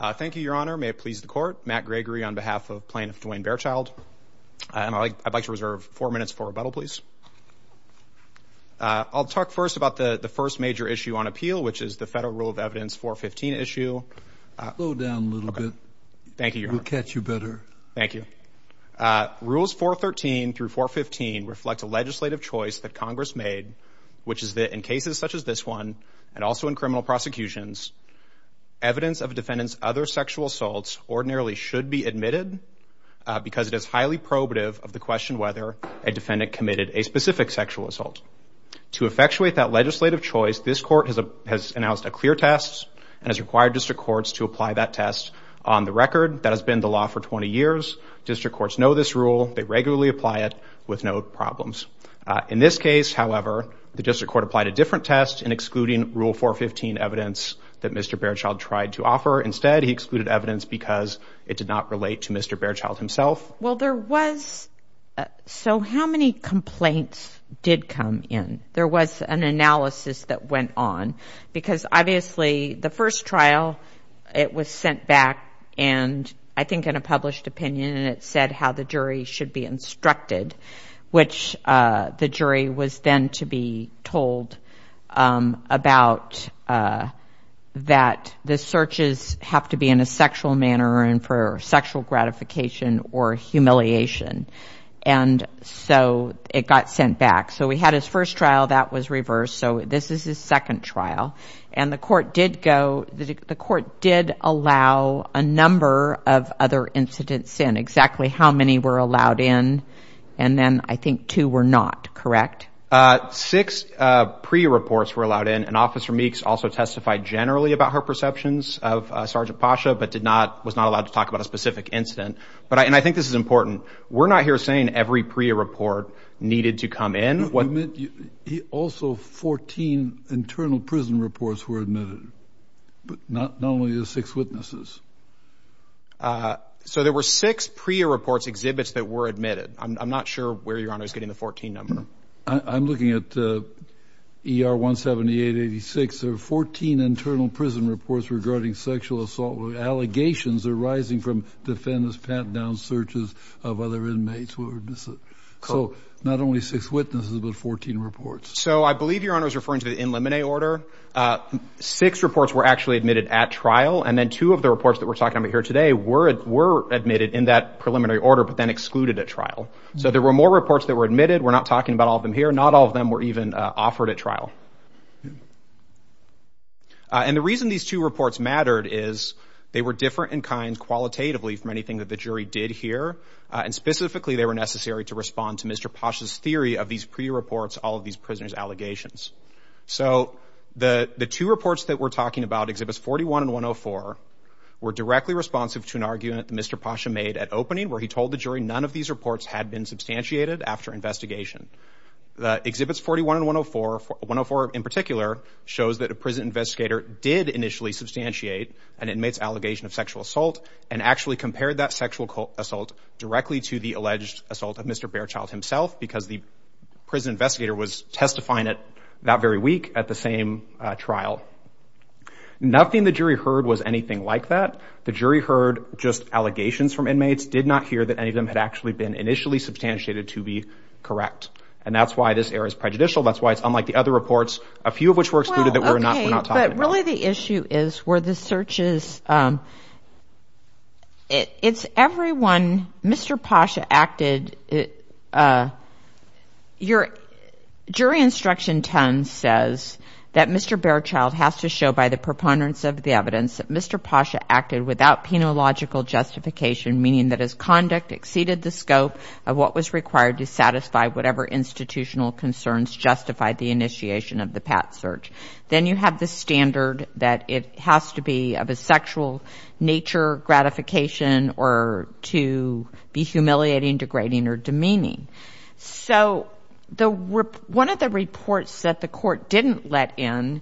Thank you, Your Honor. May it please the Court, Matt Gregory on behalf of Plaintiff Dwayne Bearchild. I'd like to reserve four minutes for rebuttal, please. I'll talk first about the first major issue on appeal, which is the Federal Rule of Evidence 415 issue. Slow down a little bit. Thank you, Your Honor. We'll catch you better. Thank you. Rules 413 through 415 reflect a legislative choice that Congress made, which is that in cases such as this one, and also in criminal prosecutions, evidence of a defendant's other sexual assaults ordinarily should be admitted because it is highly probative of the question whether a defendant committed a specific sexual assault. To effectuate that legislative choice, this Court has announced a clear test and has required district courts to apply that test on the record. That has been the law for 20 years. District courts know this rule. They regularly apply it with no problems. In this case, however, the district court applied a different test in excluding Rule 415 evidence that Mr. Bearchild tried to offer. Instead, he excluded evidence because it did not relate to Mr. Bearchild himself. Well, there was... So, how many complaints did come in? There was an analysis that went on because, obviously, the first trial, it was sent back, and I think in a published opinion, and it said how the jury should be instructed, which the jury was then to be told about that the searches have to be in a sexual manner and for sexual gratification or humiliation, and so it got sent back. So, we had his first trial. That was reversed, so this is his second trial, and the court did go... The court did allow a number of other incidents in, exactly how many were allowed in, and then, I think, two were not, correct? Six PREA reports were allowed in, and Officer Meeks also testified generally about her perceptions of Sergeant Pasha but did not... Was not allowed to talk about a specific incident, and I think this is important. We're not here saying every PREA report needed to come in. Also, 14 internal prison reports were admitted, but not only the six witnesses. So there were six PREA reports, exhibits, that were admitted. I'm not sure where Your Honor is getting the 14 number. I'm looking at ER 17886. There were 14 internal prison reports regarding sexual assault allegations arising from defendants' pat-down searches of other inmates who were... So, not only six witnesses, but 14 reports. So, I believe Your Honor is referring to the in limine order. Six reports were actually admitted at trial, and then two of the reports that we're talking about here today were admitted in that preliminary order but then excluded at trial. So, there were more reports that were admitted. We're not talking about all of them here. Not all of them were even offered at trial. And the reason these two reports mattered is they were different in kind qualitatively from anything that the jury did here. And specifically, they were necessary to respond to Mr. Pasha's theory of these PREA reports, all of these prisoners' allegations. So, the two reports that we're talking about, exhibits 41 and 104, were directly responsive to an argument Mr. Pasha made at opening where he told the jury none of these reports had been substantiated after investigation. Exhibits 41 and 104, 104 in particular, shows that a prison investigator did initially substantiate an inmate's allegation of sexual assault and actually compared that sexual assault directly to the alleged assault of Mr. Baerchild himself because the prison investigator was testifying at that very week at the same trial. Nothing the jury heard was anything like that. The jury heard just allegations from inmates, did not hear that any of them had actually been initially substantiated to be correct. And that's why this error is prejudicial. That's why it's unlike the other reports, a few of which were excluded that we're not talking about. Okay, but really the issue is where the search is, it's everyone, Mr. Pasha acted, your jury instruction tone says that Mr. Baerchild has to show by the preponderance of the evidence that Mr. Pasha acted without penological justification, meaning that his conduct exceeded the scope of what was required to satisfy whatever institutional concerns justified the initiation of the pat search. Then you have the standard that it has to be of a sexual nature, gratification, or to be humiliating, degrading, or demeaning. So one of the reports that the court didn't let in,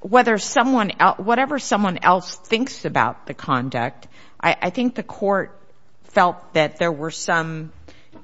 whatever someone else thinks about the conduct, I think the court felt that there were some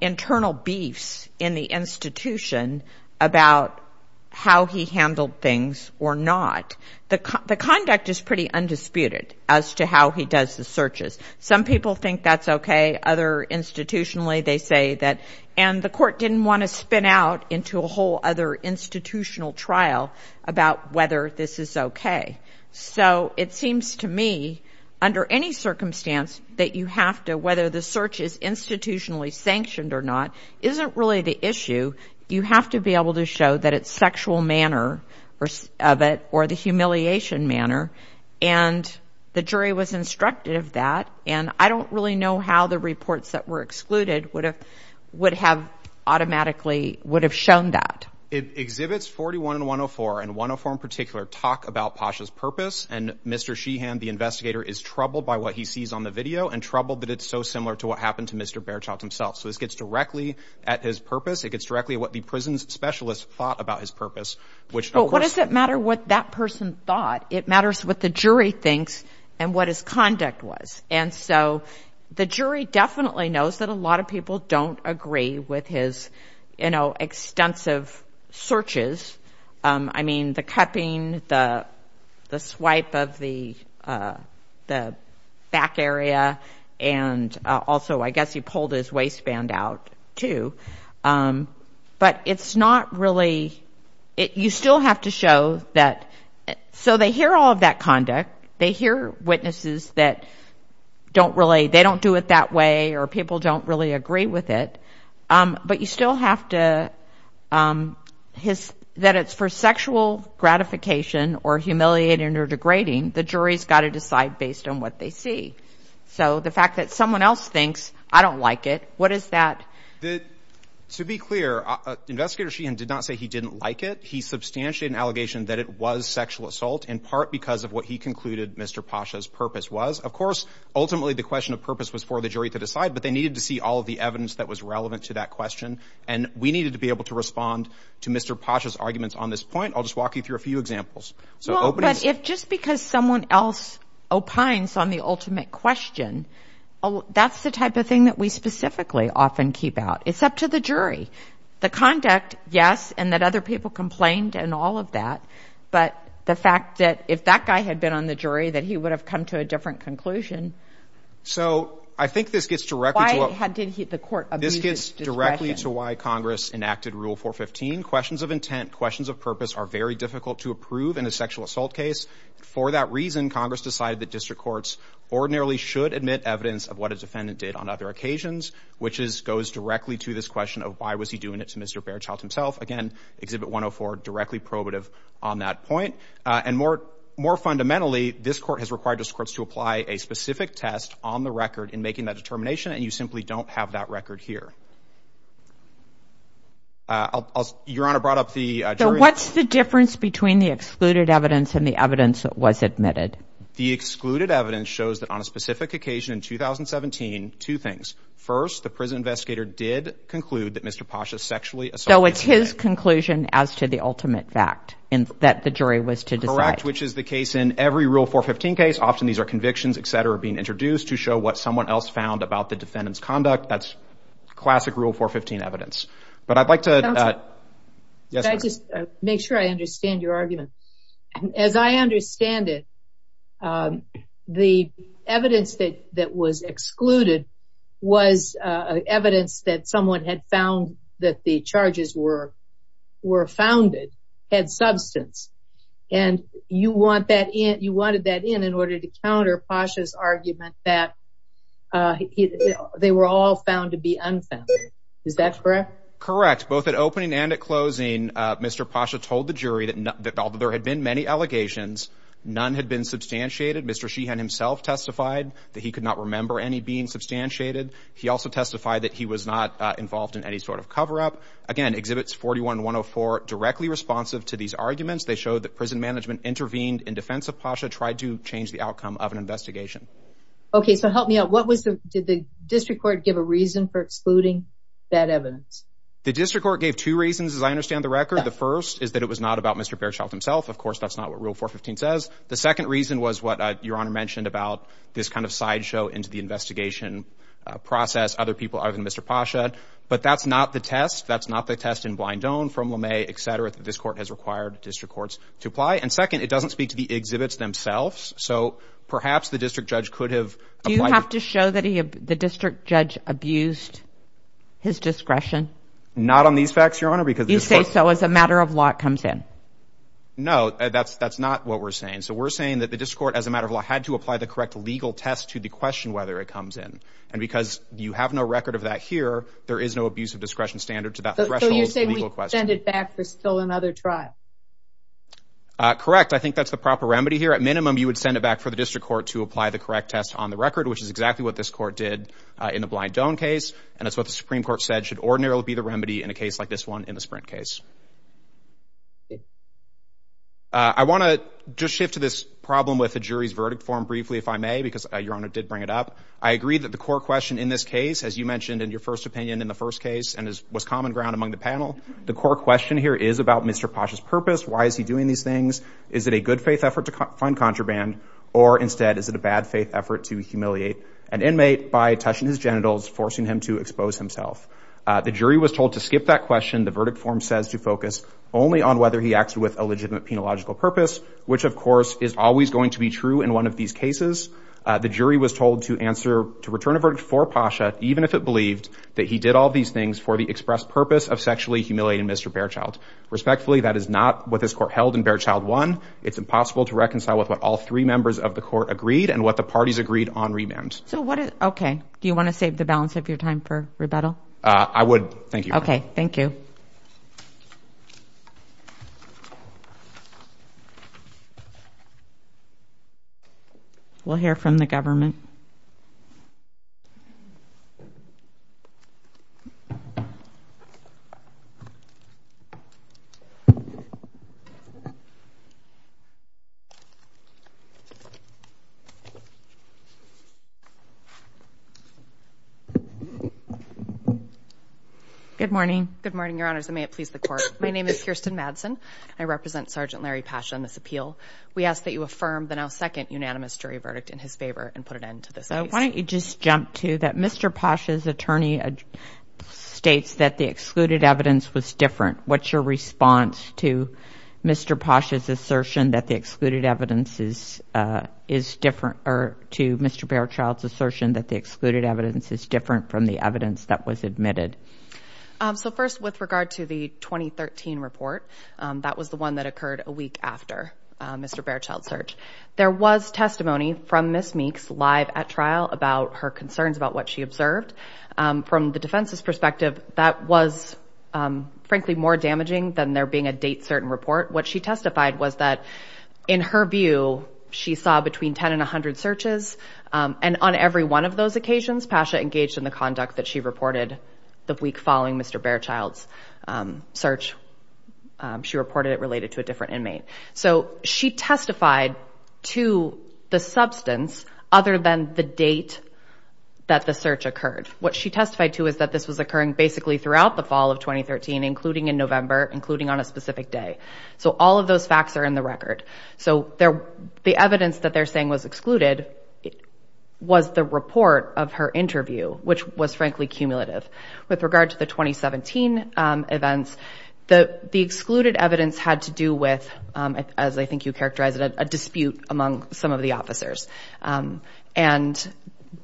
internal beefs in the institution about how he handled things or not. The conduct is pretty undisputed as to how he does the searches. Some people think that's okay, other institutionally they say that, and the court didn't want to spin out into a whole other institutional trial about whether this is okay. So it seems to me, under any circumstance, that you have to, whether the search is institutionally sanctioned or not, isn't really the issue. You have to be able to show that it's sexual manner of it, or the humiliation manner, and the jury was instructed of that, and I don't really know how the reports that were excluded would have automatically would have shown that. It exhibits 41 and 104, and 104 in particular talk about Pasha's purpose, and Mr. Sheehan, the investigator, is troubled by what he sees on the video, and troubled that it's so similar to what happened to Mr. Behrschaft himself. So this gets directly at his purpose, it gets directly at what the prison specialist thought about his purpose, which of course... Well, what does it matter what that person thought? It matters what the jury thinks and what his conduct was. And so the jury definitely knows that a lot of people don't agree with his extensive searches. I mean, the cupping, the swipe of the back area, and also I guess he pulled his waistband out, too. But it's not really... You still have to show that... So they hear all of that conduct, they hear witnesses that don't really... They don't really agree with it. But you still have to... That it's for sexual gratification or humiliating or degrading, the jury's got to decide based on what they see. So the fact that someone else thinks, I don't like it, what is that? To be clear, Investigator Sheehan did not say he didn't like it. He substantiated an allegation that it was sexual assault, in part because of what he concluded Mr. Pasha's purpose was. Of course, ultimately the question of purpose was for the jury to decide, but they needed to see all of the evidence that was relevant to that question. And we needed to be able to respond to Mr. Pasha's arguments on this point. I'll just walk you through a few examples. So just because someone else opines on the ultimate question, that's the type of thing that we specifically often keep out. It's up to the jury. The conduct, yes, and that other people complained and all of that. But the fact that if that guy had been on the jury, that he would have come to a different conclusion. So I think this gets directly to why Congress enacted Rule 415. Questions of intent, questions of purpose are very difficult to approve in a sexual assault case. For that reason, Congress decided that district courts ordinarily should admit evidence of what a defendant did on other occasions, which goes directly to this question of why was he doing it to Mr. Bairdschild himself. Again, Exhibit 104, directly probative on that point. And more fundamentally, this court has required district courts to apply a specific test on the record in making that determination, and you simply don't have that record here. Your Honor, I brought up the jury. What's the difference between the excluded evidence and the evidence that was admitted? The excluded evidence shows that on a specific occasion in 2017, two things. First, the prison So it's his conclusion as to the ultimate fact, that the jury was to decide. Correct, which is the case in every Rule 415 case. Often these are convictions, etc. being introduced to show what someone else found about the defendant's conduct. That's classic Rule 415 evidence. But I'd like to make sure I understand your argument. As I understand it, the evidence that was excluded was evidence that someone had found that the charges were founded, had substance. And you wanted that in in order to counter Pasha's argument that they were all found to be unfounded. Is that correct? Correct. Both at opening and at closing, Mr. Pasha told the jury that although there had been many allegations, none had been substantiated. Mr. Sheehan himself testified that he could not remember any being substantiated. He also testified that he was not involved in any sort of cover-up. Again, Exhibits 41 and 104 directly responsive to these arguments. They showed that prison management intervened in defense of Pasha, tried to change the outcome of an investigation. Okay, so help me out. Did the district court give a reason for excluding that evidence? The district court gave two reasons, as I understand the record. The first is that it was not about Mr. Baerchild himself. Of course, that's not what Rule 415 says. The second reason was what Your Honor mentioned about this kind of sideshow into the investigation process, other people other than Mr. Pasha. But that's not the test. That's not the test in Blindone, from Lemay, et cetera, that this court has required district courts to apply. And second, it doesn't speak to the exhibits themselves. So perhaps the district judge could have... Do you have to show that the district judge abused his discretion? Not on these facts, Your Honor, because... You say so as a matter of law it comes in. No, that's not what we're saying. So we're saying that the district court, as a matter of law, had to apply the correct legal test to the question whether it comes in. And because you have no record of that here, there is no abuse of discretion standard to that threshold legal question. So you're saying we send it back for still another trial? Correct. I think that's the proper remedy here. At minimum, you would send it back for the district court to apply the correct test on the record, which is exactly what this court did in the Blindone case. And that's what the Supreme Court said should ordinarily be the remedy in a case like this one in the Sprint case. I want to just shift to this problem with the jury's verdict form briefly, if I may, because Your Honor did bring it up. I agree that the core question in this case, as you mentioned in your first opinion in the first case, and was common ground among the panel, the core question here is about Mr. Posh's purpose. Why is he doing these things? Is it a good faith effort to find contraband? Or instead, is it a bad faith effort to humiliate an inmate by touching his genitals, forcing him to expose himself? The jury was told to focus only on whether he acts with a legitimate penological purpose, which, of course, is always going to be true in one of these cases. The jury was told to answer, to return a verdict for Posh, even if it believed that he did all these things for the express purpose of sexually humiliating Mr. Baerchild. Respectfully, that is not what this court held in Baerchild 1. It's impossible to reconcile with what all three members of the court agreed and what the parties agreed on remand. So what, okay. Do you want to save the balance of your time for rebuttal? I would. Thank you. Okay. Thank you. We'll hear from the government. Good morning. Good morning, Your Honors, and may it please the court. My name is Kirsten Madsen. I represent Sergeant Larry Pasha on this appeal. We ask that you affirm the now second unanimous jury verdict in his favor and put an end to this case. So why don't you just jump to that Mr. Pasha's attorney states that the excluded evidence was different. What's your response to Mr. Pasha's assertion that the excluded evidence is different, or to Mr. Baerchild's assertion that the excluded evidence is different from the evidence that was admitted? So first, with regard to the 2013 report, that was the one that occurred a week after Mr. Baerchild's search. There was testimony from Ms. Meeks live at trial about her concerns about what she observed. From the defense's perspective, that was frankly more damaging than there being a date certain report. What she testified was that in her view, she saw between 10 and 100 searches. And on every one of those occasions, Pasha engaged in the conduct that she reported the week following Mr. Baerchild's search. She reported it related to a different inmate. So she testified to the substance other than the date that the search occurred. What she testified to is that this was occurring basically throughout the fall of 2013, including in November, including on a specific day. So all of those facts are in the record. So the evidence that they're saying was excluded was the report of her interview, which was frankly cumulative. With regard to the 2017 events, the excluded evidence had to do with, as I think you characterized it, a dispute among some of the officers. And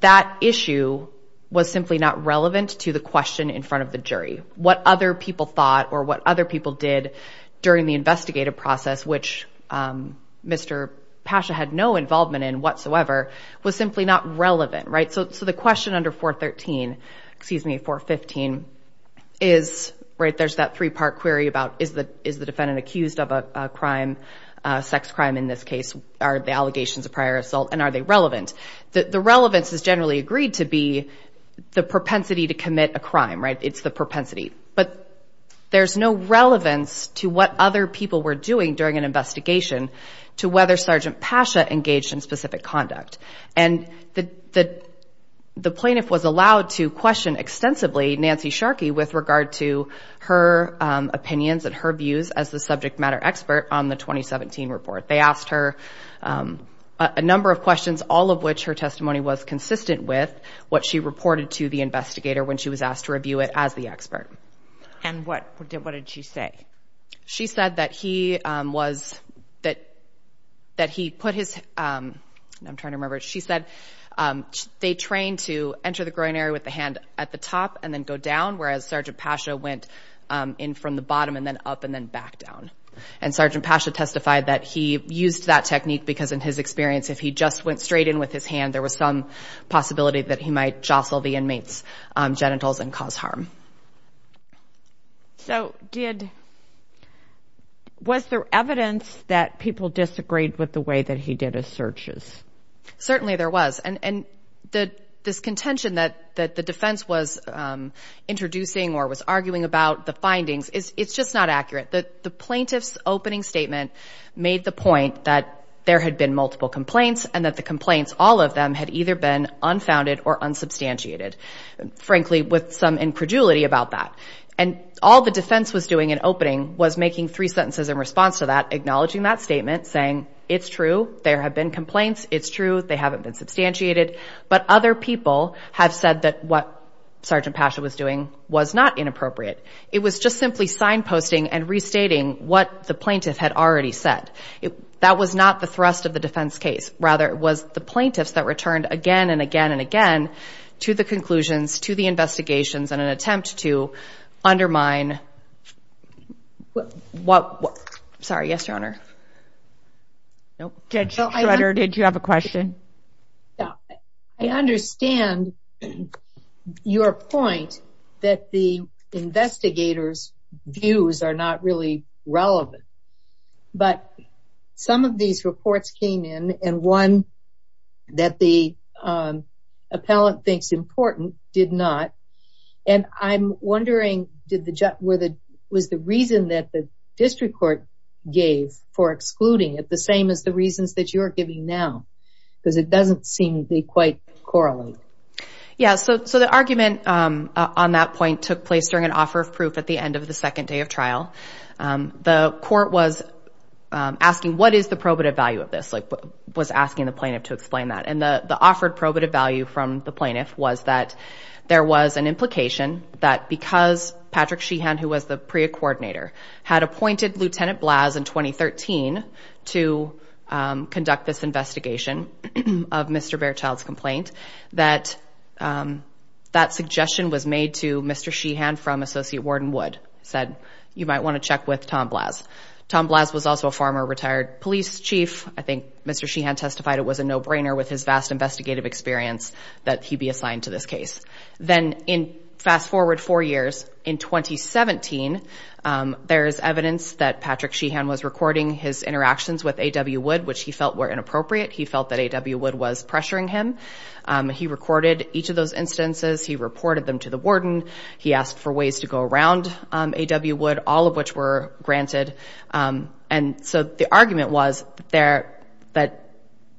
that issue was simply not relevant to the question in front of the jury, what other people thought or what other people did during the investigative process, which Mr. Pasha had no involvement in whatsoever, was simply not relevant, right? So the question under 413, excuse me, 415, is, right, there's that three-part query about is the defendant accused of a crime, a sex crime in this case, are the allegations of prior assault, and are they relevant? The relevance is generally agreed to be the propensity to commit a crime, right? It's the propensity. But there's no relevance to what other people were doing during an investigation to whether Sergeant Pasha engaged in specific conduct. And the plaintiff was allowed to question extensively Nancy Sharkey with regard to her opinions and her views as the subject matter expert on the 2017 report. They asked her a number of questions, all of which her testimony was consistent with what she reported to the investigator when she was asked to review it as the expert. And what did she say? She said that he was, that he put his, I'm trying to remember, she said they trained to enter the groin area with the hand at the top and then go down, whereas Sergeant Pasha went in from the bottom and then up and then back down. And Sergeant Pasha testified that he used that technique because in his experience, if he just went straight in with his hand, there was some possibility that he might jostle the inmate's harm. So did, was there evidence that people disagreed with the way that he did his searches? Certainly there was. And this contention that the defense was introducing or was arguing about the findings, it's just not accurate. The plaintiff's opening statement made the point that there had been multiple complaints and that the complaints, all of them, had either been about that. And all the defense was doing in opening was making three sentences in response to that, acknowledging that statement, saying it's true. There have been complaints. It's true. They haven't been substantiated, but other people have said that what Sergeant Pasha was doing was not inappropriate. It was just simply signposting and restating what the plaintiff had already said. It, that was not the thrust of the defense case. Rather, it was the plaintiffs that returned again and again and again to the conclusions, to the investigations, in an attempt to undermine what, sorry, yes, your honor. Judge Schroeder, did you have a question? Yeah, I understand your point that the investigators' views are not really relevant, but some of these reports came in, and one that the appellant thinks important did not. And I'm wondering, did the, was the reason that the district court gave for excluding it the same as the reasons that you're giving now? Because it doesn't seem to be quite correlated. Yeah, so the argument on that point took place during an offer of proof at the end of the second day trial. The court was asking, what is the probative value of this? Like, was asking the plaintiff to explain that. And the offered probative value from the plaintiff was that there was an implication that because Patrick Sheehan, who was the PREA coordinator, had appointed Lieutenant Blaz in 2013 to conduct this investigation of Mr. Bairchild's complaint, that that suggestion was made to Mr. Sheehan. You might want to check with Tom Blaz. Tom Blaz was also a former retired police chief. I think Mr. Sheehan testified it was a no-brainer with his vast investigative experience that he be assigned to this case. Then in, fast forward four years, in 2017, there is evidence that Patrick Sheehan was recording his interactions with A.W. Wood, which he felt were inappropriate. He felt that A.W. Wood was pressuring him. He recorded each of those instances. He reported them to the warden. He asked for ways to go around A.W. Wood, all of which were granted. And so the argument was there that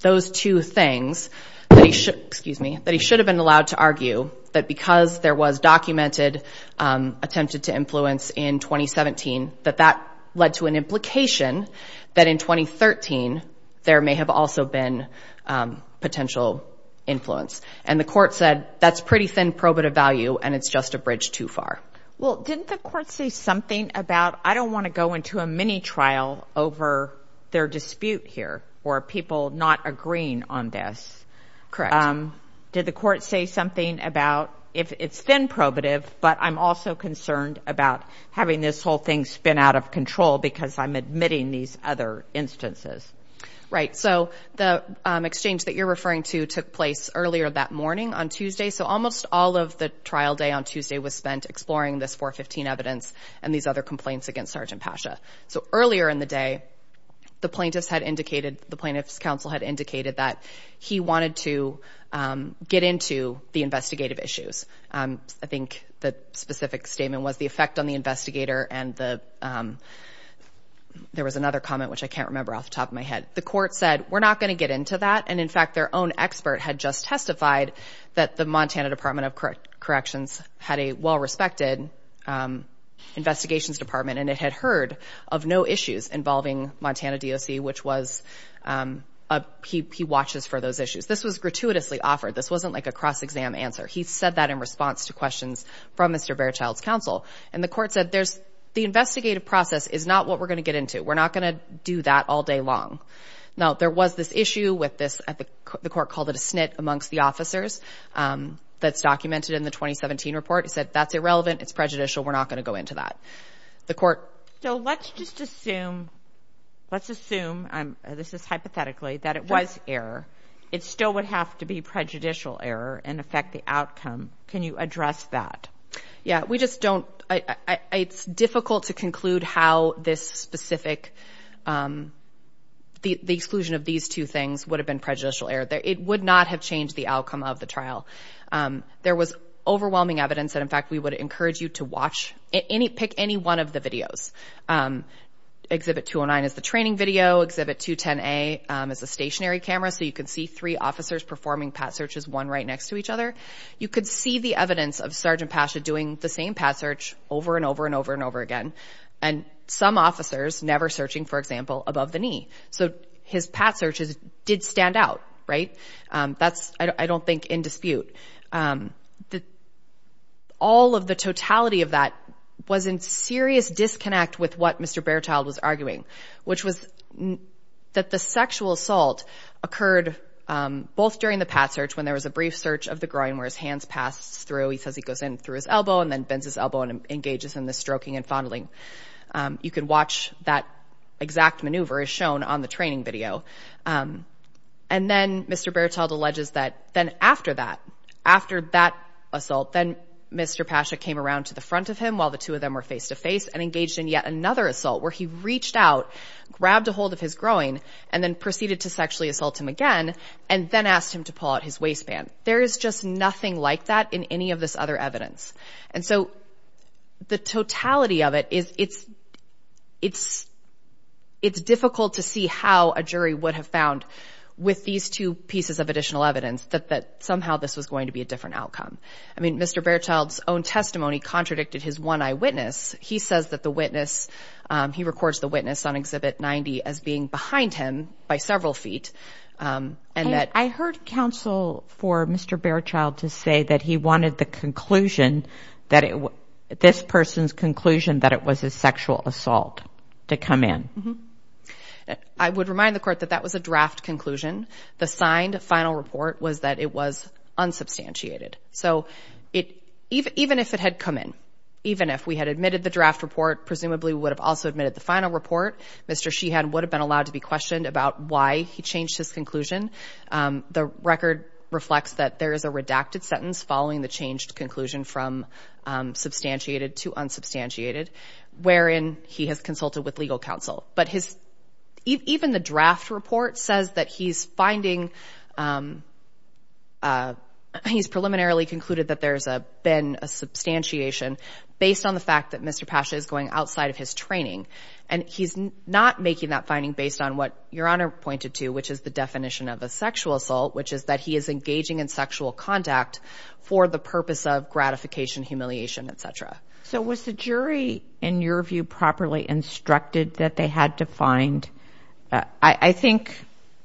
those two things, that he should, excuse me, that he should have been allowed to argue that because there was documented attempted to influence in 2017, that that led to an implication that in 2013 there may have also been potential influence. And the court said that's pretty thin probative value and it's just a bridge too far. Well, didn't the court say something about, I don't want to go into a mini-trial over their dispute here or people not agreeing on this? Correct. Did the court say something about, if it's thin probative, but I'm also concerned about having this whole thing spin out of control because I'm admitting these other instances? Right. So the exchange that you're referring to took place earlier that morning on Tuesday. So almost all of the trial day on Tuesday was spent exploring this 415 evidence and these other complaints against Sergeant Pasha. So earlier in the day, the plaintiff's counsel had indicated that he wanted to get into the investigative issues. I think the specific statement was the effect on the investigator and there was another comment, which I can't remember off the top of my head. The court said, we're not going to get into that. And in fact, their own expert had just testified that the Montana Department of Corrections had a well-respected investigations department and it had heard of no issues involving Montana DOC, which was, he watches for those issues. This was gratuitously offered. This wasn't like a cross-exam answer. He said that in response to questions from Mr. Barechild's counsel. And the court said, the investigative process is not what we're going to get into. We're not going to do that all day long. Now there was this issue with this, the court called it a snit amongst the officers. That's documented in the 2017 report. He said, that's irrelevant. It's prejudicial. We're not going to go into that. The court. So let's just assume, let's assume, this is hypothetically, that it was error. It still would have to be prejudicial error and affect the outcome. Can you address that? Yeah, we just don't, it's difficult to conclude how this specific, the exclusion of these two things would have been prejudicial error. It would not have changed the outcome of the trial. There was overwhelming evidence that, in fact, we would encourage you to watch, pick any one of the videos. Exhibit 209 is the training video. Exhibit 210A is a stationary camera. So you could see three officers performing pat searches, one right next to each other. You could see the evidence of Sergeant Pasha doing the same pat search over and over and over and over again. And some officers never searching, for example, above the knee. So his pat searches did stand out, right? That's, I don't think, in dispute. All of the totality of that was in serious disconnect with what Mr. Berthold was arguing, which was that the sexual assault occurred both during the pat search, when there was a brief search of the groin where his hands passed through. He says he goes in through his elbow and then bends his elbow and engages in the stroking and fondling. You can watch that exact maneuver as shown on the training video. And then Mr. Berthold alleges that then after that, after that assault, then Mr. Pasha came around to the front of him while the two of them were face to face and engaged in yet another assault where he reached out, grabbed a hold of his groin and then proceeded to sexually assault him again and then asked him to pull out his waistband. There is just nothing like that in any of this other evidence. And so the totality of it is it's, it's, it's difficult to see how a jury would have found with these two pieces of additional evidence that somehow this was going to be a different outcome. I mean, Mr. Berthold's own testimony contradicted his one eyewitness. He says that the witness, he records the witness on exhibit 90 as being behind him by several feet. Um, and that I heard counsel for Mr. Berthold to say that he wanted the conclusion that it was this person's conclusion that it was a sexual assault to come in. I would remind the court that that was a draft conclusion. The signed final report was that it was unsubstantiated. So it, even, even if it had come in, even if we had admitted the draft report, presumably would have also admitted the final report, Mr. Sheehan would have been allowed to be questioned about why he changed his conclusion. Um, the record reflects that there is a redacted sentence following the changed conclusion from, um, substantiated to unsubstantiated wherein he has consulted with legal counsel, but his, even the draft report says that he's finding, um, uh, he's preliminarily concluded that there's a, been a substantiation based on the fact that Mr. Pasha is going outside of his training. And he's not making that finding based on what your honor pointed to, which is the definition of a sexual assault, which is that he is engaging in sexual contact for the purpose of gratification, humiliation, et cetera. So was the jury in your view properly instructed that they had to find, uh, I think,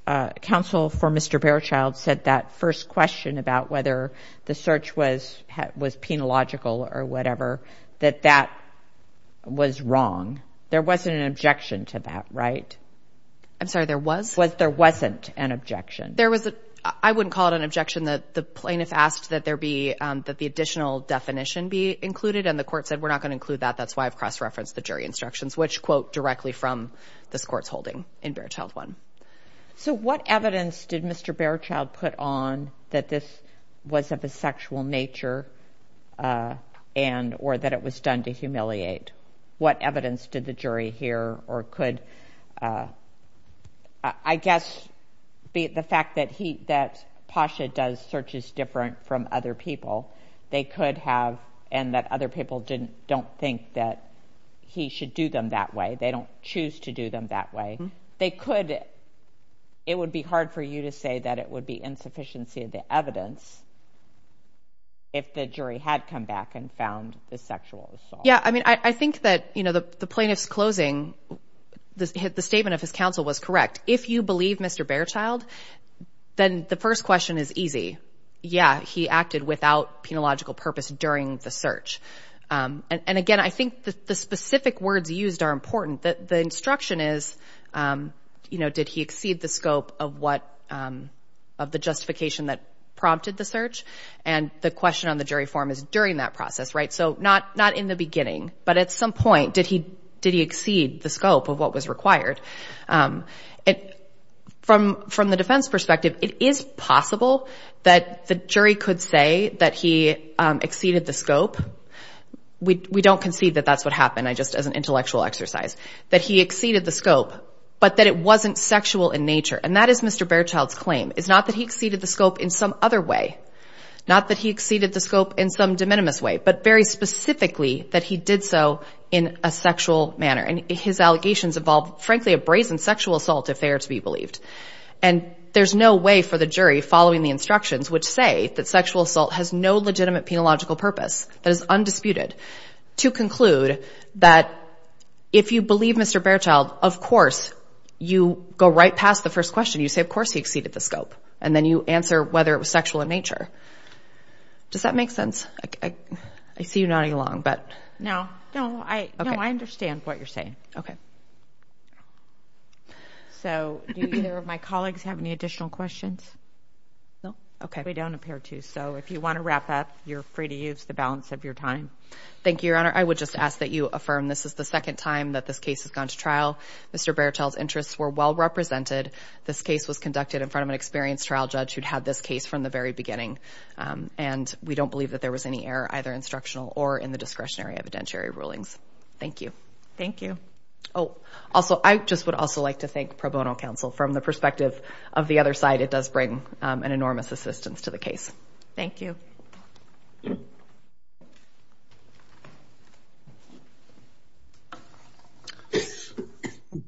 uh, counsel for Mr. Berthold said that first question about whether the search was, was penological or whatever, that that was wrong. There wasn't an objection to that, right? I'm sorry. There was, there wasn't an objection. There was a, I wouldn't call it an objection that the plaintiff asked that there be, um, that the additional definition be included. And the court said, we're not going to include that. That's why I've cross-referenced the jury instructions, which quote directly from the sports holding in bear child one. So what evidence did nature, uh, and, or that it was done to humiliate what evidence did the jury here or could, uh, I guess be the fact that he, that Pasha does searches different from other people. They could have, and that other people didn't don't think that he should do them that way. They don't choose to do them that way. They could, it would be hard for you to say that it would be the evidence if the jury had come back and found the sexual assault. Yeah. I mean, I think that, you know, the plaintiff's closing, the statement of his counsel was correct. If you believe Mr. Bearchild, then the first question is easy. Yeah. He acted without penological purpose during the search. And again, I think the specific words used are important that the instruction is, um, you know, did he exceed the scope of what, um, of the justification that prompted the search? And the question on the jury form is during that process, right? So not, not in the beginning, but at some point, did he, did he exceed the scope of what was required? Um, it from, from the defense perspective, it is possible that the jury could say that he, um, exceeded the scope. We don't concede that that's what happened. I just, as an intellectual exercise that he exceeded the scope, but that it wasn't sexual in nature. And that is Mr. Bearchild's claim is not that he exceeded the scope in some other way, not that he exceeded the scope in some de minimis way, but very specifically that he did so in a sexual manner. And his allegations evolve, frankly, a brazen sexual assault, if they are to be believed. And there's no way for the jury following the instructions, which say that sexual assault has no legitimate penological purpose that is undisputed to conclude that if you believe Mr. Bearchild, of course you go right past the first question. You say, of course he exceeded the scope. And then you answer whether it was sexual in nature. Does that make sense? I see you nodding along, but no, no, I, no, I understand what you're saying. Okay. So do either of my colleagues have any additional questions? No. Okay. We don't appear to. So if you want to wrap up, you're free to use the balance of your time. Thank you, Your Honor. I would just ask that you affirm this is the second time that this case has gone to trial. Mr. Bearchild's interests were well represented. This case was conducted in front of an experienced trial judge who'd had this case from the very beginning. And we don't believe that there was any error, either instructional or in the discretionary evidentiary rulings. Thank you. Thank you. Oh, also, I just would also like to thank Pro Bono from the perspective of the other side. It does bring an enormous assistance to the case. Thank you.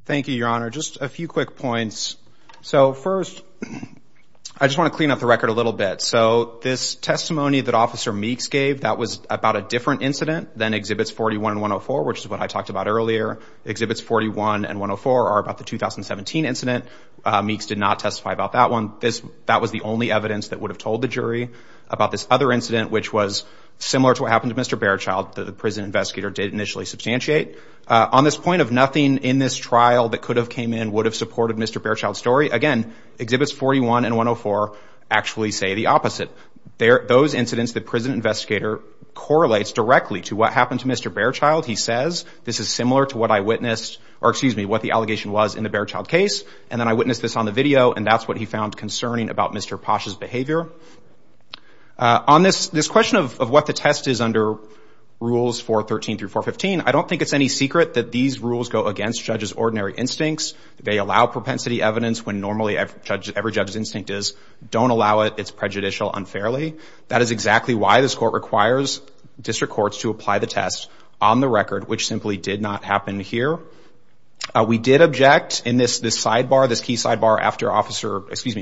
Thank you, Your Honor. Just a few quick points. So first, I just want to clean up the record a little bit. So this testimony that Officer Meeks gave, that was about a different incident than Exhibits 41 and 104, which is what I talked about earlier. Exhibits 41 and 104 are about the 2017 incident. Meeks did not testify about that one. That was the only evidence that would have told the jury about this other incident, which was similar to what happened to Mr. Bearchild, that the prison investigator did initially substantiate. On this point of nothing in this trial that could have came in would have supported Mr. Bearchild's story, again, Exhibits 41 and 104 actually say the opposite. Those incidents, the prison investigator correlates directly to what happened to Mr. Bearchild. He says, this is similar to what I in the Bearchild case, and then I witnessed this on the video, and that's what he found concerning about Mr. Posh's behavior. On this question of what the test is under Rules 413 through 415, I don't think it's any secret that these rules go against judges' ordinary instincts. They allow propensity evidence when normally every judge's instinct is don't allow it, it's prejudicial unfairly. That is exactly why this court requires district courts to apply the test on the record, which simply did not happen here. We did object in this sidebar, this key sidebar after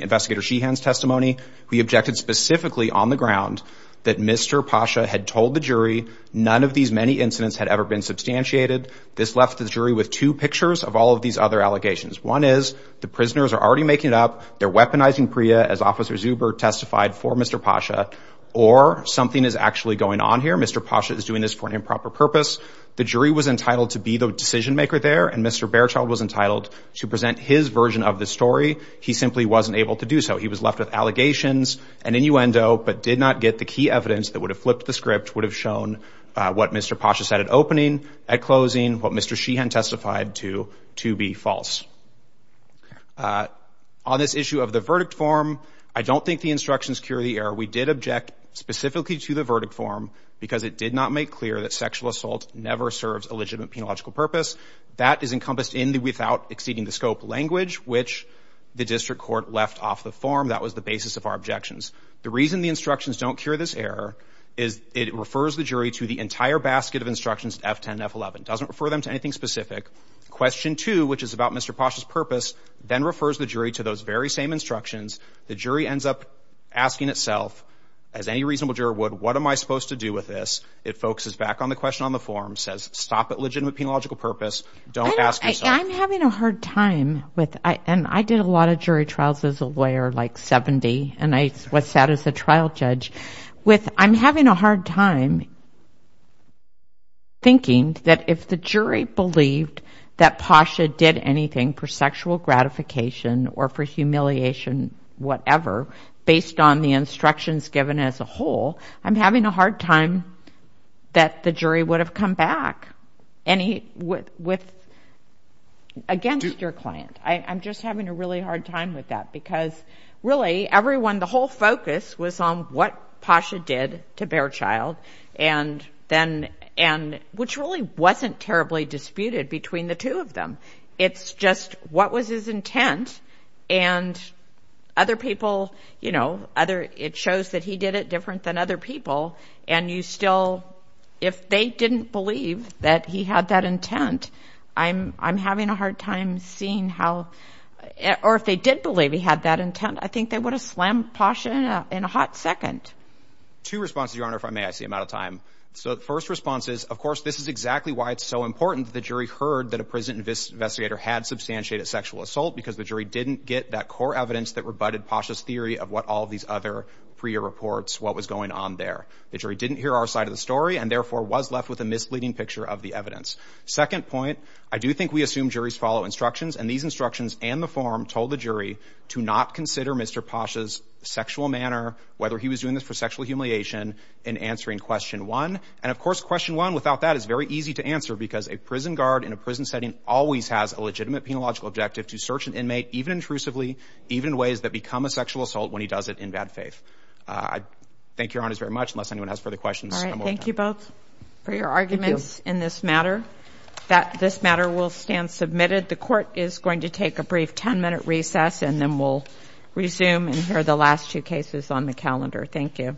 investigator Sheehan's testimony. We objected specifically on the ground that Mr. Pasha had told the jury none of these many incidents had ever been substantiated. This left the jury with two pictures of all of these other allegations. One is the prisoners are already making it up. They're weaponizing Priya as Officer Zuber testified for Mr. Pasha, or something is actually going on here. Mr. Pasha is doing this for an improper purpose. The jury was entitled to be the decision maker there, and Mr. Bairchild was entitled to present his version of the story. He simply wasn't able to do so. He was left with allegations and innuendo, but did not get the key evidence that would have flipped the script, would have shown what Mr. Pasha said at opening, at closing, what Mr. Sheehan testified to, to be false. On this issue of the verdict form, I don't think the instructions cure the error. We did object specifically to the verdict form because it did not make clear that sexual assault never serves a legitimate penological purpose. That is encompassed in the without exceeding the scope language, which the district court left off the form. That was the basis of our objections. The reason the instructions don't cure this error is it refers the jury to the entire basket of instructions, F10, F11. Doesn't refer them to anything specific. Question two, which is about Mr. Pasha's purpose, then refers the jury to those very same instructions. The jury ends up asking itself, as any reasonable juror would, what am I supposed to do with this? It focuses back on the question on the form, says stop at legitimate penological purpose, don't ask yourself. I'm having a hard time with, and I did a lot of jury trials as a lawyer, like 70, and I was sat as a trial judge, with I'm having a hard time thinking that if the jury believed that Pasha did anything for sexual gratification or for humiliation, whatever, based on the instructions given as a whole, I'm having a hard time that the jury would have come back against your client. I'm just having a really hard time with that because really everyone, the whole focus was on what Pasha did to Baerchild, which really wasn't terribly disputed between the two of them. It's just what was his intent and other people, it shows that he did it different than other people, and you still, if they didn't believe that he had that intent, I'm having a hard time seeing how, or if they did believe he had that intent, I think they would have slammed Pasha in a hot second. Two responses, Your Honor, if I may, I see I'm out of time. So the first response is, of course, this is exactly why it's so important that the jury heard that a prison investigator had substantiated sexual assault because the jury didn't get that core evidence that rebutted Pasha's theory of what all these other prior reports, what was going on there. The jury didn't hear our side of the story and therefore was left with a misleading picture of the evidence. Second point, I do think we assume juries follow instructions, and these instructions and the form told the jury to not consider Mr. Pasha's sexual manner, whether he was doing this for sexual humiliation, in answering question one. And of course, question one without that is very easy to answer because a prison guard in a prison setting always has a legitimate penological objective to search an inmate, even intrusively, even in ways that become a sexual assault, when he does it in bad faith. I thank Your Honor very much. Unless anyone has further questions. All right, thank you both for your arguments in this matter. This matter will stand submitted. The court is going to take a brief 10-minute recess and then we'll resume and hear the last two cases on the calendar. Thank you.